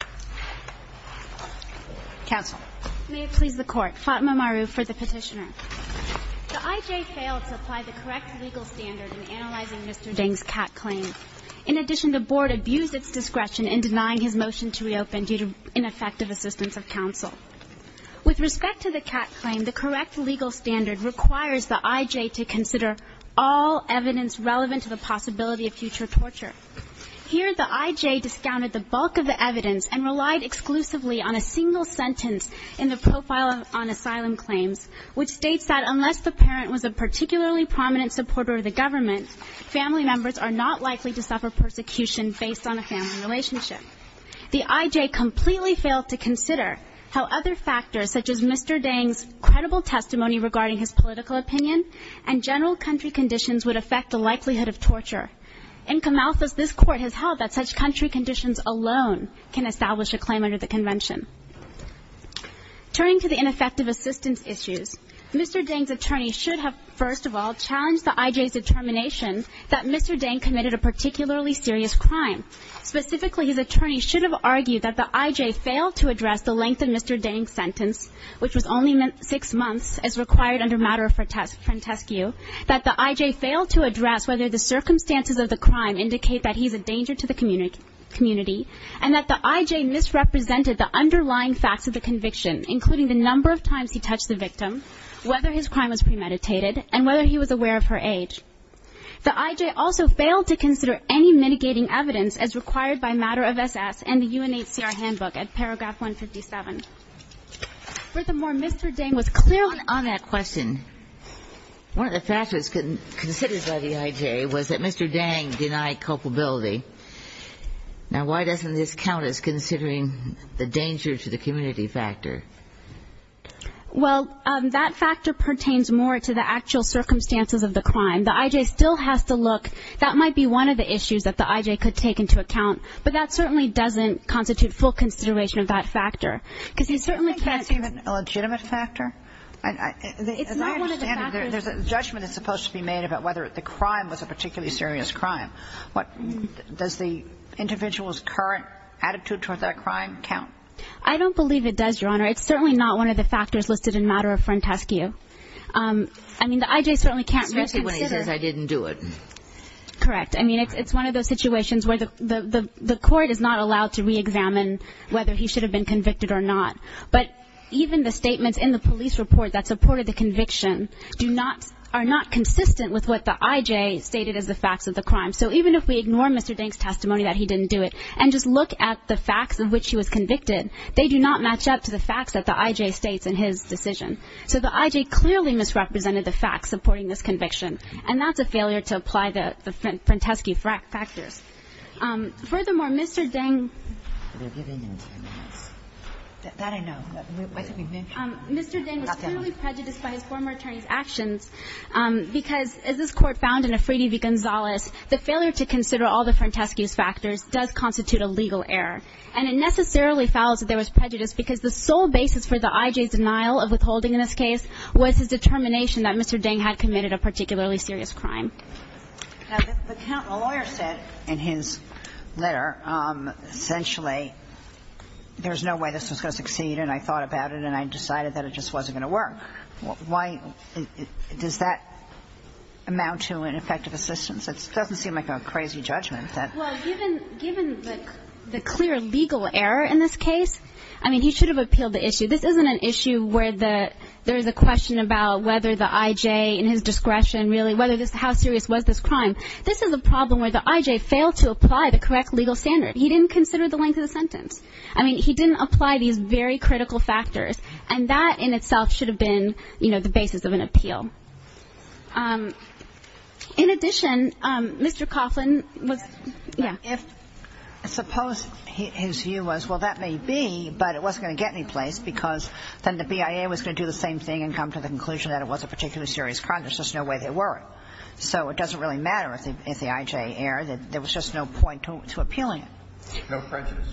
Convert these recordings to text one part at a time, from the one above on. The IJ failed to apply the correct legal standard in analyzing Mr. Dang's CAT claim. In addition, the Board abused its discretion in denying his motion to reopen due to ineffective assistance of counsel. With respect to the CAT claim, the correct legal standard requires the IJ to consider all evidence relevant to the possibility of future torture. Here, the IJ discounted the bulk of the evidence and relied exclusively on a single sentence in the Profile on Asylum Claims, which states that unless the parent was a particularly prominent supporter of the government, family members are not likely to suffer persecution based on a family relationship. The IJ completely failed to consider how other factors, such as Mr. Dang's credible testimony regarding his political opinion and general country conditions, would affect the likelihood of torture. In Kamalthus, this Court has held that such country conditions alone can establish a claim under the Convention. Turning to the ineffective assistance issues, Mr. Dang's attorney should have, first of all, challenged the IJ's determination that Mr. Dang committed a particularly serious crime. Specifically, his attorney should have argued that the IJ failed to address the length of Mr. Dang's sentence, which was only six months, as required under Mater frantescu, that the IJ failed to address whether the circumstances of the crime indicate that he is a danger to the community, and that the IJ misrepresented the underlying facts of the conviction, including the number of times he touched the victim, whether his crime was premeditated, and whether he was aware of her age. The IJ also failed to consider any mitigating evidence as required by Mater of SS and the UNHCR Handbook at paragraph 157. Furthermore, Mr. Dang was clear on that question. One of the factors considered by the IJ was that Mr. Dang denied culpability. Now, why doesn't this count as considering the danger to the community factor? Well, that factor pertains more to the actual circumstances of the crime. The IJ still has to look. That might be one of the issues that the IJ could take into account, but that certainly doesn't constitute full consideration of that factor, because you certainly can't I think that's even a legitimate factor. It's not one of the factors As I understand it, there's a judgment that's supposed to be made about whether the crime was a particularly serious crime. What, does the individual's current attitude toward that crime count? I don't believe it does, Your Honor. It's certainly not one of the factors listed in Mater of frantescu. I mean, the IJ certainly can't reconsider Especially when he says, I didn't do it. Correct. I mean, it's one of those situations where the court is not allowed to re-examine whether he should have been convicted or not. But even the statements in the police report that supported the conviction are not consistent with what the IJ stated as the facts of the crime. So even if we ignore Mr. Dang's testimony that he didn't do it, and just look at the facts of which he was convicted, they do not match up to the facts that the IJ states in his decision. So the IJ clearly misrepresented the facts supporting this conviction, and that's a failure to apply the frantescu factors. Furthermore, Mr. Dang They're giving him ten minutes. That I know. Mr. Dang was clearly prejudiced by his former attorney's actions because, as this Court found in Afridi v. Gonzales, the failure to consider all the frantescu factors does constitute a legal error. And it necessarily follows that there was prejudice because the sole basis for the IJ's denial of withholding in this case was his determination that Mr. Dang had committed a particularly serious crime. Now, the lawyer said in his letter, essentially, there's no way this was going to succeed, and I thought about it, and I decided that it just wasn't going to work. Why does that amount to ineffective assistance? It doesn't seem like a crazy judgment that Well, given the clear legal error in this case, I mean, he should have appealed the whether this, how serious was this crime. This is a problem where the IJ failed to apply the correct legal standard. He didn't consider the length of the sentence. I mean, he didn't apply these very critical factors, and that in itself should have been, you know, the basis of an appeal. In addition, Mr. Coughlin was Suppose his view was, well, that may be, but it wasn't going to get anyplace because then the BIA was going to do the same thing and come to the conclusion that it was a particularly serious crime. There's just no way they were. So it doesn't really matter if the IJ erred. There was just no point to appealing it. No prejudice.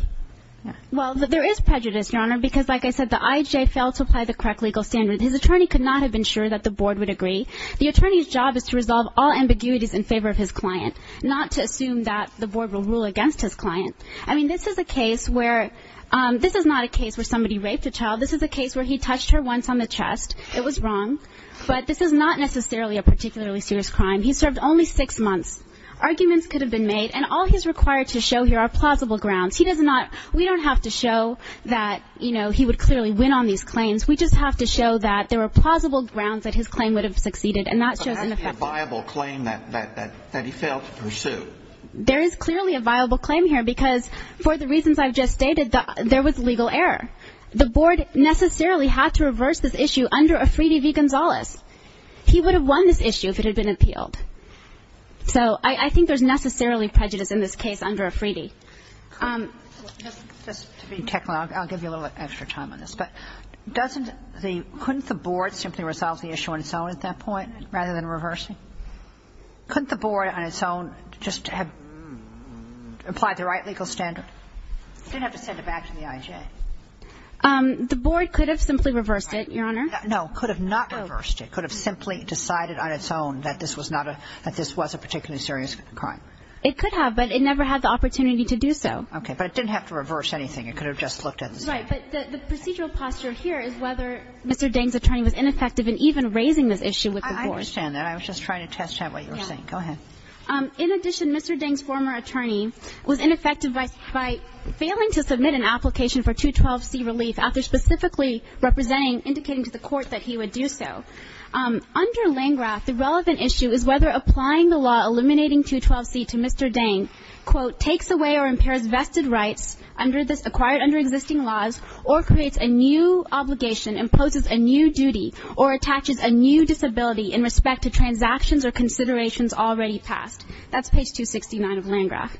Well, there is prejudice, Your Honor, because like I said, the IJ failed to apply the correct legal standard. His attorney could not have been sure that the board would agree. The attorney's job is to resolve all ambiguities in favor of his client, not to assume that the board will rule against his client. I mean, this is a case where this is not a case where somebody raped a child. This is a case where he touched her once on the chest. It was wrong. But this is not necessarily a particularly serious crime. He served only six months. Arguments could have been made. And all he's required to show here are plausible grounds. He does not. We don't have to show that, you know, he would clearly win on these claims. We just have to show that there are plausible grounds that his claim would have succeeded. And that shows a viable claim that that that he failed to pursue. There is clearly a viable claim here because for the reasons I've just stated, there was legal error. The board necessarily had to reverse this issue under Afridi v. Gonzales. He would have won this issue if it had been appealed. So I think there's necessarily prejudice in this case under Afridi. Kagan. Just to be technical, I'll give you a little extra time on this, but doesn't the – couldn't the board simply resolve the issue on its own at that point rather than reversing? Couldn't the board on its own just have applied the right legal standard? Didn't have to send it back to the IJ. The board could have simply reversed it, Your Honor. No. Could have not reversed it. Could have simply decided on its own that this was not a – that this was a particularly serious crime. It could have, but it never had the opportunity to do so. Okay. But it didn't have to reverse anything. It could have just looked at the statute. Right. But the procedural posture here is whether Mr. Deng's attorney was ineffective in even raising this issue with the board. I understand that. I was just trying to test out what you were saying. Go ahead. In addition, Mr. Deng's former attorney was ineffective by failing to submit an application for 212C relief after specifically representing – indicating to the court that he would do so. Under Landgraf, the relevant issue is whether applying the law eliminating 212C to Mr. Deng, quote, takes away or impairs vested rights under this – acquired under existing laws, or creates a new obligation, imposes a new duty, or attaches a new disability in respect to transactions or considerations already passed. That's page 269 of Landgraf.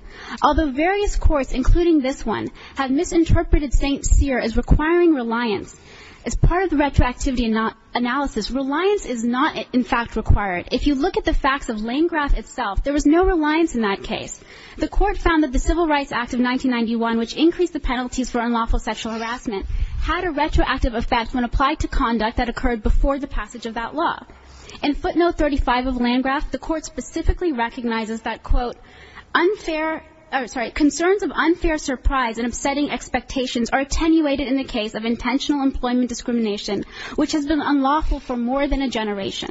Although various courts, including this one, have misinterpreted St. Cyr as requiring reliance, as part of the retroactivity analysis, reliance is not, in fact, required. If you look at the facts of Landgraf itself, there was no reliance in that case. The court found that the Civil Rights Act of 1991, which increased the penalties for unlawful sexual harassment, had a retroactive effect when applied to conduct that occurred before the passage of that law. In footnote 35 of Landgraf, the court specifically recognizes that, quote, unfair – or, sorry, concerns of unfair surprise and upsetting expectations are attenuated in the case of intentional employment discrimination, which has been unlawful for more than a generation.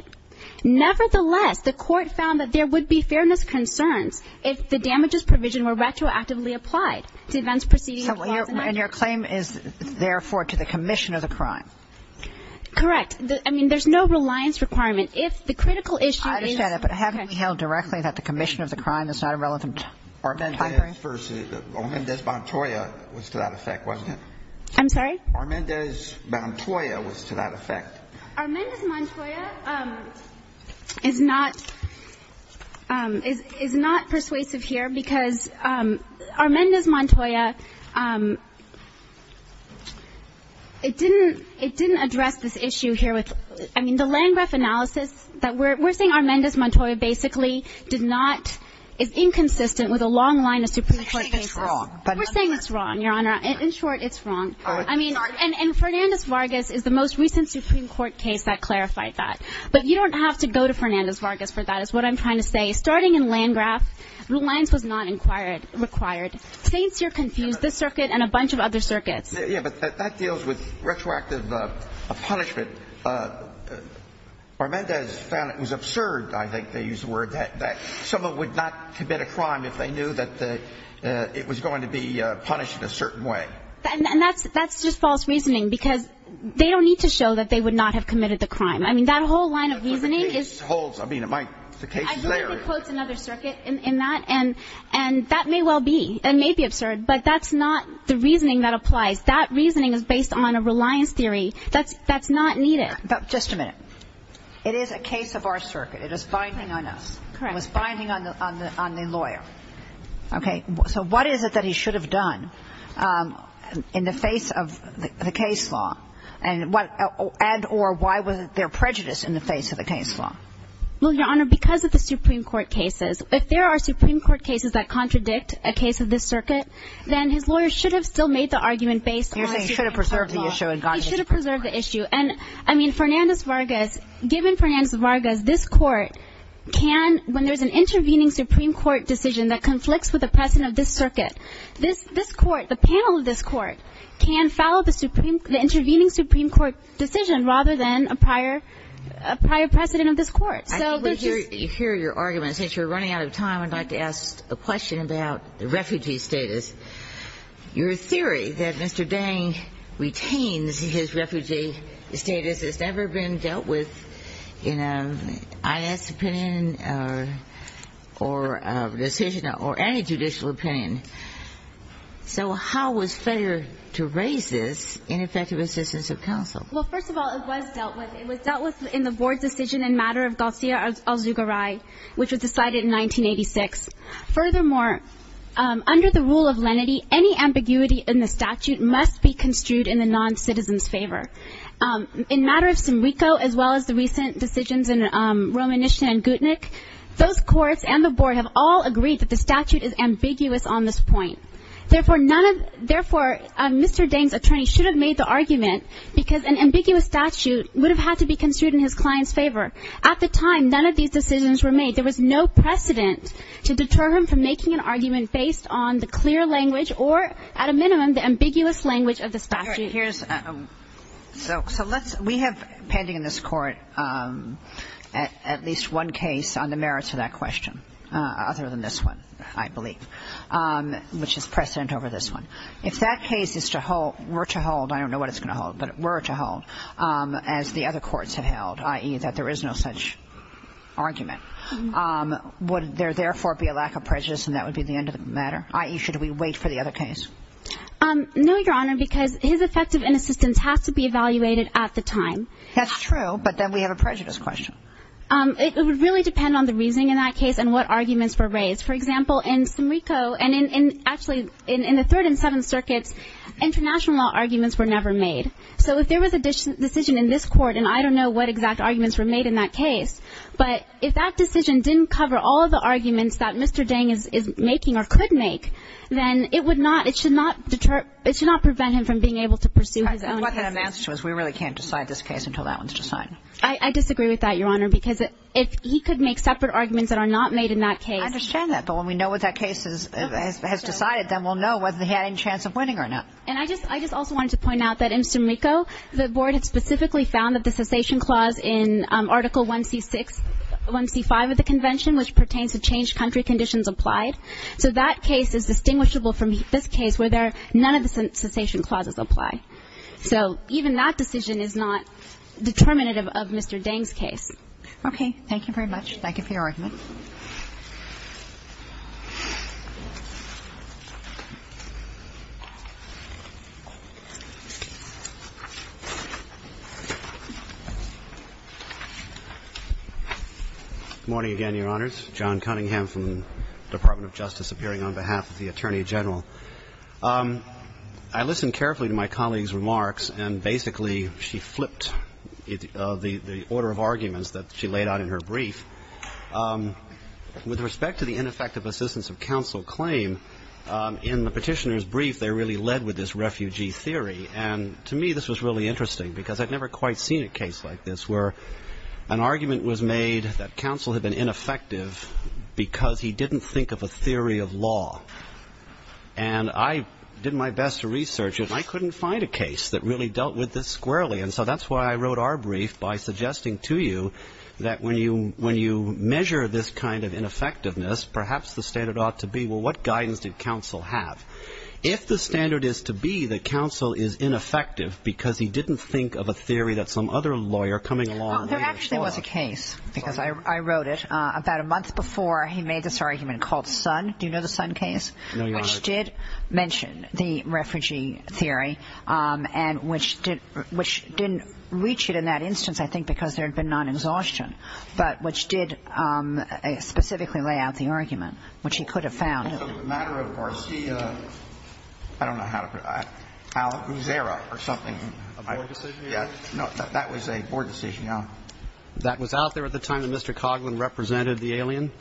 Nevertheless, the court found that there would be fairness concerns if the damages provision were retroactively applied to events preceding the clause in Act. And your claim is, therefore, to the commission of the crime? Correct. I mean, there's no reliance requirement. If the critical issue is – I understand that, but haven't we held directly that the commission of the crime is not a relevant – Armendez Montoya was to that effect, wasn't it? Armendez Montoya was to that effect. Armendez Montoya is not – is not persuasive here because Armendez Montoya, it didn't – it didn't address this issue here with – I mean, the Landgraf analysis that – we're saying Armendez Montoya basically did not – is inconsistent with a long line of Supreme Court cases. I'm saying it's wrong, but in short – We're saying it's wrong, Your Honor. In short, it's wrong. Oh, I'm sorry. And Fernandez-Vargas is the most recent Supreme Court case that clarified that. But you don't have to go to Fernandez-Vargas for that, is what I'm trying to say. Starting in Landgraf, reliance was not required. Saints, you're confused. This circuit and a bunch of other circuits. Yeah, but that deals with retroactive punishment. Armendez found it was absurd, I think they used the word, that someone would not commit a crime if they knew that it was going to be punished in a certain way. And that's just false reasoning, because they don't need to show that they would not have committed the crime. I mean, that whole line of reasoning is – That's what it means, holds – I mean, it might – the case is there. I think it quotes another circuit in that, and that may well be – it may be absurd, but that's not the reasoning that applies. That reasoning is based on a reliance theory that's not needed. Just a minute. It is a case of our circuit. It is binding on us. Correct. It was binding on the lawyer. Okay. So what is it that he should have done? In the face of the case law, and what – and or why was there prejudice in the face of the case law? Well, Your Honor, because of the Supreme Court cases. If there are Supreme Court cases that contradict a case of this circuit, then his lawyer should have still made the argument based on – You're saying he should have preserved the issue and gone – He should have preserved the issue. And, I mean, Fernandez-Vargas – given Fernandez-Vargas, this court can – when there's an intervening Supreme Court decision that conflicts with the precedent of this circuit, this – this court, the panel of this court can follow the Supreme – the intervening Supreme Court decision rather than a prior – a prior precedent of this court. I think we hear – you hear your argument. Since you're running out of time, I'd like to ask a question about the refugee status. Your theory that Mr. Dang retains his refugee status has never been dealt with in an So, how was fair to raise this in effective assistance of counsel? Well, first of all, it was dealt with. It was dealt with in the board's decision in matter of Garcia-Azugaray, which was decided in 1986. Furthermore, under the rule of lenity, any ambiguity in the statute must be construed in the noncitizen's favor. In matter of Simrico, as well as the recent decisions in Romanishna and Gutnick, those Therefore, none of – therefore, Mr. Dang's attorney should have made the argument because an ambiguous statute would have had to be construed in his client's favor. At the time, none of these decisions were made. There was no precedent to deter him from making an argument based on the clear language or, at a minimum, the ambiguous language of the statute. Here's – so let's – we have pending in this court at least one case on the merits of that question, other than this one, I believe. Which is precedent over this one. If that case is to hold – were to hold – I don't know what it's going to hold, but were to hold, as the other courts have held, i.e., that there is no such argument, would there therefore be a lack of prejudice and that would be the end of the matter? i.e., should we wait for the other case? No, Your Honor, because his effective inassistance has to be evaluated at the time. That's true, but then we have a prejudice question. It would really depend on the reasoning in that case and what arguments were raised. For example, in Somerico and in – actually, in the Third and Seventh Circuits, international law arguments were never made. So if there was a decision in this court, and I don't know what exact arguments were made in that case, but if that decision didn't cover all of the arguments that Mr. Deng is making or could make, then it would not – it should not deter – it should not prevent him from being able to pursue his own cases. And what that amounts to is we really can't decide this case until that one's decided. I disagree with that, Your Honor, because if he could make separate arguments that are not made in that case – I understand that, but when we know what that case is – has decided, then we'll know whether he had any chance of winning or not. And I just – I just also wanted to point out that in Somerico, the Board had specifically found that the cessation clause in Article 1C6 – 1C5 of the Convention, which pertains to changed country conditions applied, so that case is distinguishable from this case where there – none of the cessation clauses apply. So even that decision is not determinative of Mr. Deng's case. Okay. Thank you very much. Thank you for your argument. Good morning again, Your Honors. John Cunningham from the Department of Justice appearing on behalf of the Attorney General. I listened carefully to my colleague's remarks, and basically she flipped the order of arguments that she laid out in her brief. With respect to the ineffective assistance of counsel claim, in the petitioner's brief, they really led with this refugee theory. And to me, this was really interesting, because I'd never quite seen a case like this where an argument was made that counsel had been ineffective because he didn't think of a theory of law. And I did my best to research it, and I couldn't find a case that really dealt with this squarely. So that's why I wrote our brief, by suggesting to you that when you measure this kind of ineffectiveness, perhaps the standard ought to be, well, what guidance did counsel have? If the standard is to be that counsel is ineffective because he didn't think of a theory that some other lawyer coming along later saw. Well, there actually was a case, because I wrote it, about a month before he made this argument called Sun. Do you know the Sun case? No, Your Honor. Which did mention the refugee theory, and which didn't reach it in that instance, I think, because there had been non-exhaustion. But which did specifically lay out the argument, which he could have found. So the matter of Garcia, I don't know how to put it, Al Guzera or something. A board decision? Yeah. No, that was a board decision, Your Honor. That was out there at the time that Mr. Coghlan represented the alien?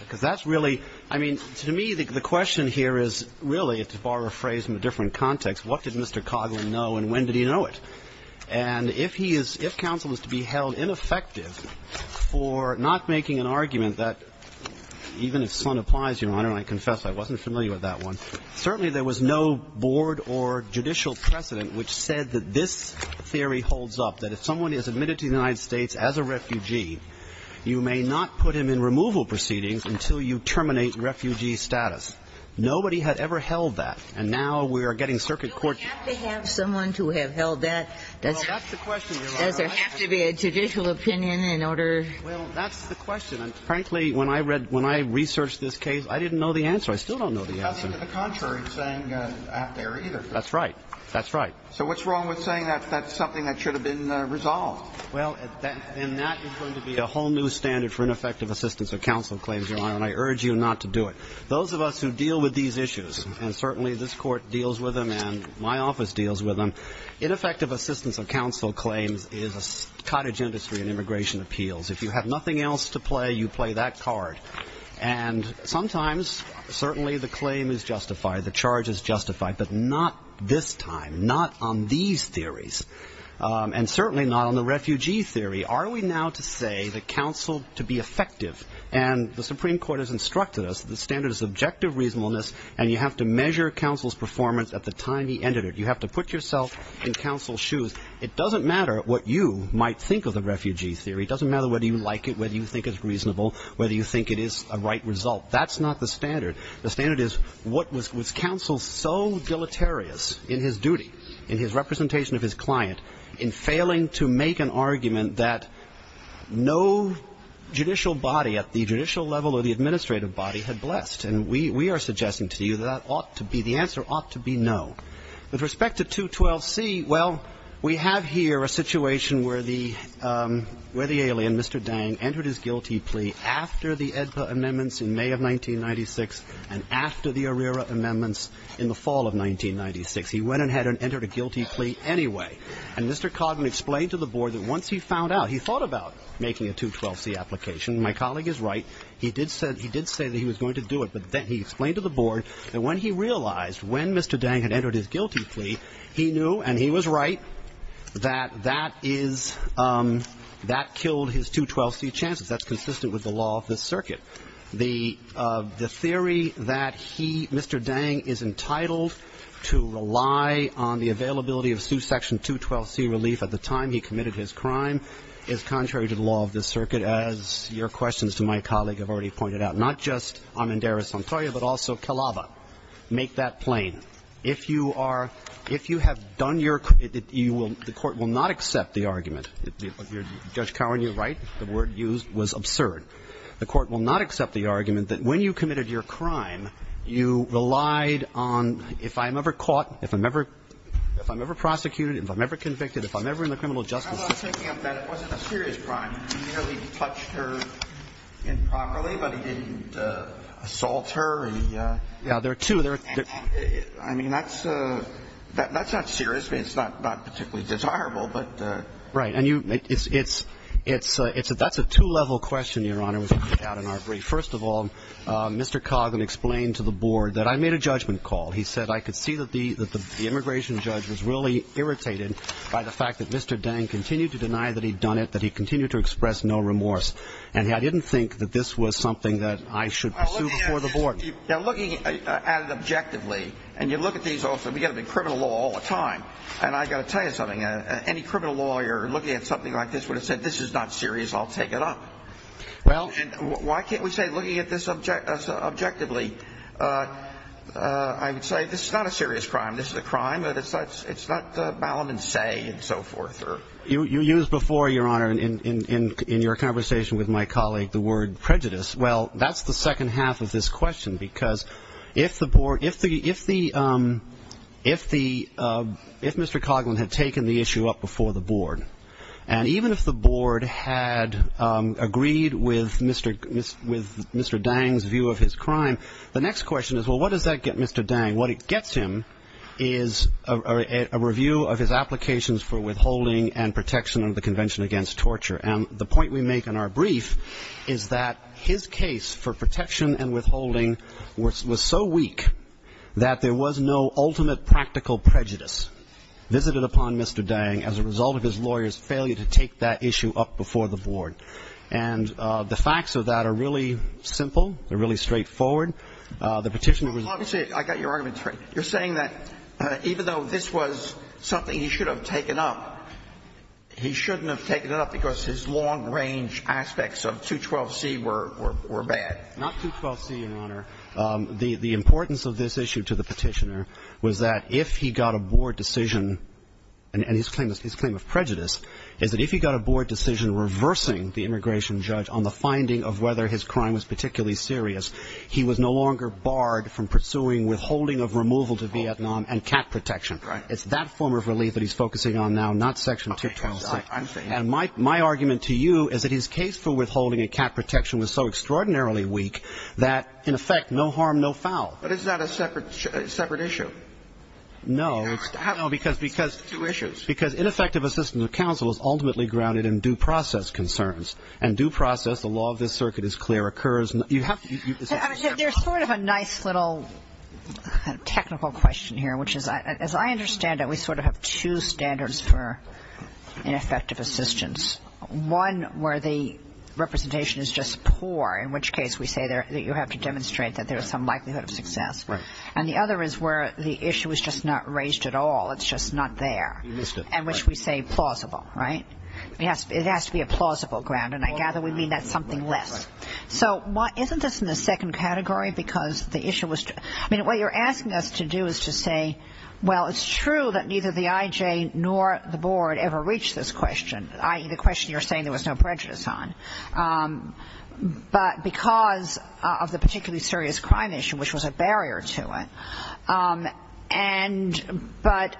Because that's really, I mean, to me the question here is really, to borrow a phrase from a different context, what did Mr. Coghlan know and when did he know it? And if he is, if counsel is to be held ineffective for not making an argument that, even if Sun applies, Your Honor, and I confess I wasn't familiar with that one, certainly there was no board or judicial precedent which said that this theory holds up, that if someone is admitted to the United States as a refugee, you may not put him in removal proceedings until you terminate refugee status. Nobody had ever held that. And now we are getting circuit court. Do we have to have someone to have held that? Does there have to be a judicial opinion in order? Well, that's the question. And frankly, when I read, when I researched this case, I didn't know the answer. I still don't know the answer. Because it's the contrary saying out there either. That's right. That's right. So what's wrong with saying that that's something that should have been resolved? Well, then that is going to be a whole new standard for ineffective assistance of counsel claims, Your Honor, and I urge you not to do it. Those of us who deal with these issues, and certainly this court deals with them and my office deals with them, ineffective assistance of counsel claims is a cottage industry in immigration appeals. If you have nothing else to play, you play that card. And sometimes, certainly the claim is justified, the charge is justified. But not this time. Not on these theories. And certainly not on the refugee theory. Are we now to say that counsel to be effective, and the Supreme Court has instructed us that the standard is objective reasonableness, and you have to measure counsel's performance at the time he entered it. You have to put yourself in counsel's shoes. It doesn't matter what you might think of the refugee theory. It doesn't matter whether you like it, whether you think it's reasonable, whether you think it is a right result. That's not the standard. The standard is, was counsel so deleterious in his duty, in his representation of his client, in failing to make an argument that no judicial body at the judicial level or the administrative body had blessed. And we are suggesting to you that that ought to be, the answer ought to be no. With respect to 212C, well, we have here a situation where the alien, Mr. Dang, entered his guilty plea after the AEDPA amendments in May of 1996 and after the ARERA amendments in the fall of 1996. He went ahead and entered a guilty plea anyway. And Mr. Codman explained to the board that once he found out, he thought about making a 212C application. My colleague is right. He did say that he was going to do it. But then he explained to the board that when he realized when Mr. Dang had entered his guilty plea, he knew, and he was right, that that killed his 212C chances. That's consistent with the law of this circuit. The theory that he, Mr. Dang, is entitled to rely on the availability of suit section 212C relief at the time he committed his crime is contrary to the law of this circuit, as your questions to my colleague have already pointed out, not just Amendera-Santoya, but also Calaba. Make that plain. If you are, if you have done your, you will, the court will not accept the argument. Judge Cowan, you're right. The word used was absurd. The court will not accept the argument that when you committed your crime, you relied on, if I'm ever caught, if I'm ever, if I'm ever prosecuted, if I'm ever convicted, if I'm ever in the criminal justice system. I'm not taking up that. It wasn't a serious crime. He merely touched her improperly, but he didn't assault her, he. Yeah, there are two, there are. I mean, that's, that's not serious, but it's not, not particularly desirable, but. Right, and you, it's, it's, it's, it's, that's a two level question, your honor, was put out in our brief. First of all, Mr. Coggan explained to the board that I made a judgment call. He said I could see that the, that the immigration judge was really irritated by the fact that Mr. Dang continued to deny that he'd done it, that he continued to express no remorse. And I didn't think that this was something that I should pursue before the board. Now looking at it objectively, and you look at these also, we get them in criminal law all the time. And I gotta tell you something, any criminal lawyer looking at something like this would have said, this is not serious, I'll take it up. Well, and why can't we say, looking at this object, objectively I would say, this is not a serious crime, this is a crime, but it's not, it's not Ballam and Say, and so forth, or. You, you used before, your honor, in, in, in, in your conversation with my colleague, the word prejudice. Well, that's the second half of this question, because if the board, if the, if the if the if Mr. Cogman had taken the issue up before the board. And even if the board had agreed with Mr., Mr., with Mr. Dang's view of his crime. The next question is, well, what does that get Mr. Dang? What it gets him is a, a, a review of his applications for withholding and protection of the Convention Against Torture. And the point we make in our brief is that his case for protection and withholding was, was so weak that there was no ultimate practical prejudice. Visited upon Mr. Dang as a result of his lawyer's failure to take that issue up before the board. And the facts of that are really simple, they're really straightforward. The petitioner was. Obviously, I got your arguments right. You're saying that even though this was something he should have taken up, he shouldn't have taken it up because his long range aspects of 212C were, were, were bad. Not 212C, your honor. The, the importance of this issue to the petitioner was that if he got a board decision. And, and his claim, his claim of prejudice is that if he got a board decision reversing the immigration judge on the finding of whether his crime was particularly serious. He was no longer barred from pursuing withholding of removal to Vietnam and cat protection. Right. It's that form of relief that he's focusing on now, not section 212C. I'm saying. And my, my argument to you is that his case for withholding a cat protection was so But is that a separate, separate issue? No, it's, no, because, because, because ineffective assistance of counsel is ultimately grounded in due process concerns. And due process, the law of this circuit is clear, occurs. You have to, you have to. There's sort of a nice little technical question here, which is, as I understand it, we sort of have two standards for ineffective assistance. One where the representation is just poor, in which case we say that you have to demonstrate that there is some likelihood of success. And the other is where the issue is just not raised at all. It's just not there. You missed it. In which we say plausible, right? It has to be a plausible ground, and I gather we mean that's something less. So why, isn't this in the second category because the issue was, I mean, what you're asking us to do is to say, well, it's true that neither the IJ nor the board ever reached this question, i.e. the question you're saying there was no prejudice on. But because of the particularly serious crime issue, which was a barrier to it, and, but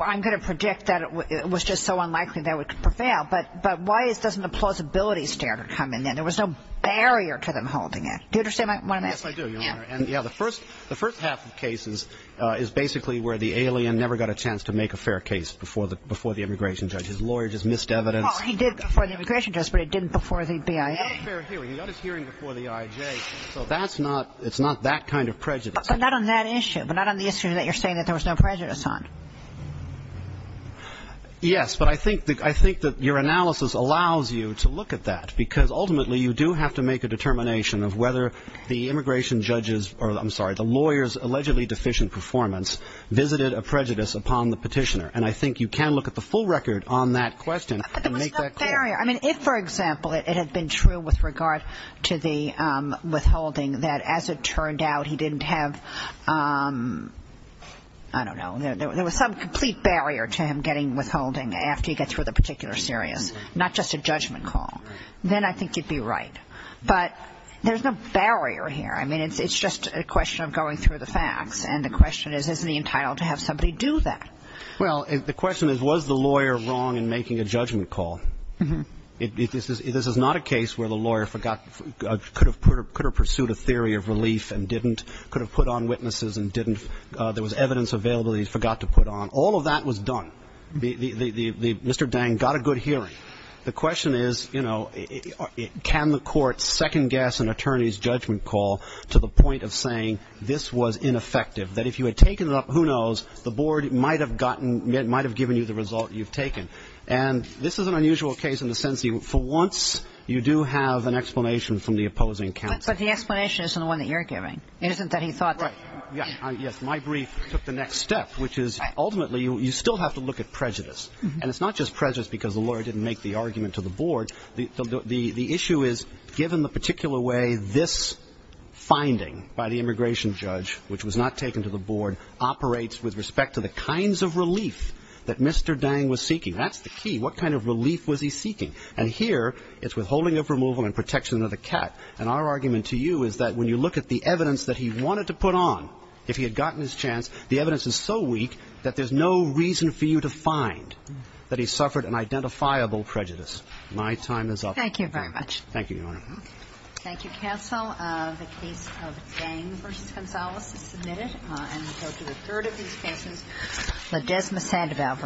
I'm going to predict that it was just so unlikely that it would prevail, but why doesn't the plausibility standard come in then? There was no barrier to them holding it. Do you understand what I'm asking? Yes, I do, Your Honor. And, yeah, the first half of cases is basically where the alien never got a chance to make a fair case before the immigration judge. His lawyer just missed evidence. Well, he did before the immigration judge, but it didn't before the BIA. He got a fair hearing. He got his hearing before the IJ. So that's not, it's not that kind of prejudice. But not on that issue, but not on the issue that you're saying that there was no prejudice on. Yes, but I think, I think that your analysis allows you to look at that, because ultimately you do have to make a determination of whether the immigration judge's, or I'm sorry, the lawyer's allegedly deficient performance visited a prejudice upon the petitioner. And I think you can look at the full record on that question and make that clear. But there was no barrier. I mean, if, for example, it had been true with regard to the withholding, that as it turned out, he didn't have, I don't know, there was some complete barrier to him getting withholding after he got through the particular series, not just a judgment call. Then I think you'd be right. But there's no barrier here. I mean, it's just a question of going through the facts. And the question is, is he entitled to have somebody do that? Well, the question is, was the lawyer wrong in making a judgment call? This is not a case where the lawyer forgot, could have pursued a theory of relief and didn't, could have put on witnesses and didn't, there was evidence available that he forgot to put on. All of that was done. Mr. Dang got a good hearing. The question is, you know, can the court second guess an attorney's judgment call to the point of saying this was ineffective, that if you had taken it up, who knows, the board might have gotten, might have given you the result you've taken. And this is an unusual case in the sense that for once you do have an explanation from the opposing counsel. But the explanation isn't the one that you're giving, isn't it, that he thought that? Right. Yes. My brief took the next step, which is ultimately you still have to look at prejudice. But the issue is, given the particular way this finding by the immigration judge, which was not taken to the board, operates with respect to the kinds of relief that Mr. Dang was seeking. That's the key. What kind of relief was he seeking? And here it's withholding of removal and protection of the cat. And our argument to you is that when you look at the evidence that he wanted to put on, if he had gotten his chance, the evidence is so weak that there's no reason for you to find that he suffered an identifiable prejudice. My time is up. Thank you very much. Thank you, Your Honor. Thank you, counsel. The case of Dang v. Gonzalez is submitted. And we go to the third of these cases, Ledesma-Sandoval v. Gonzalez. Thank you, Your Honor.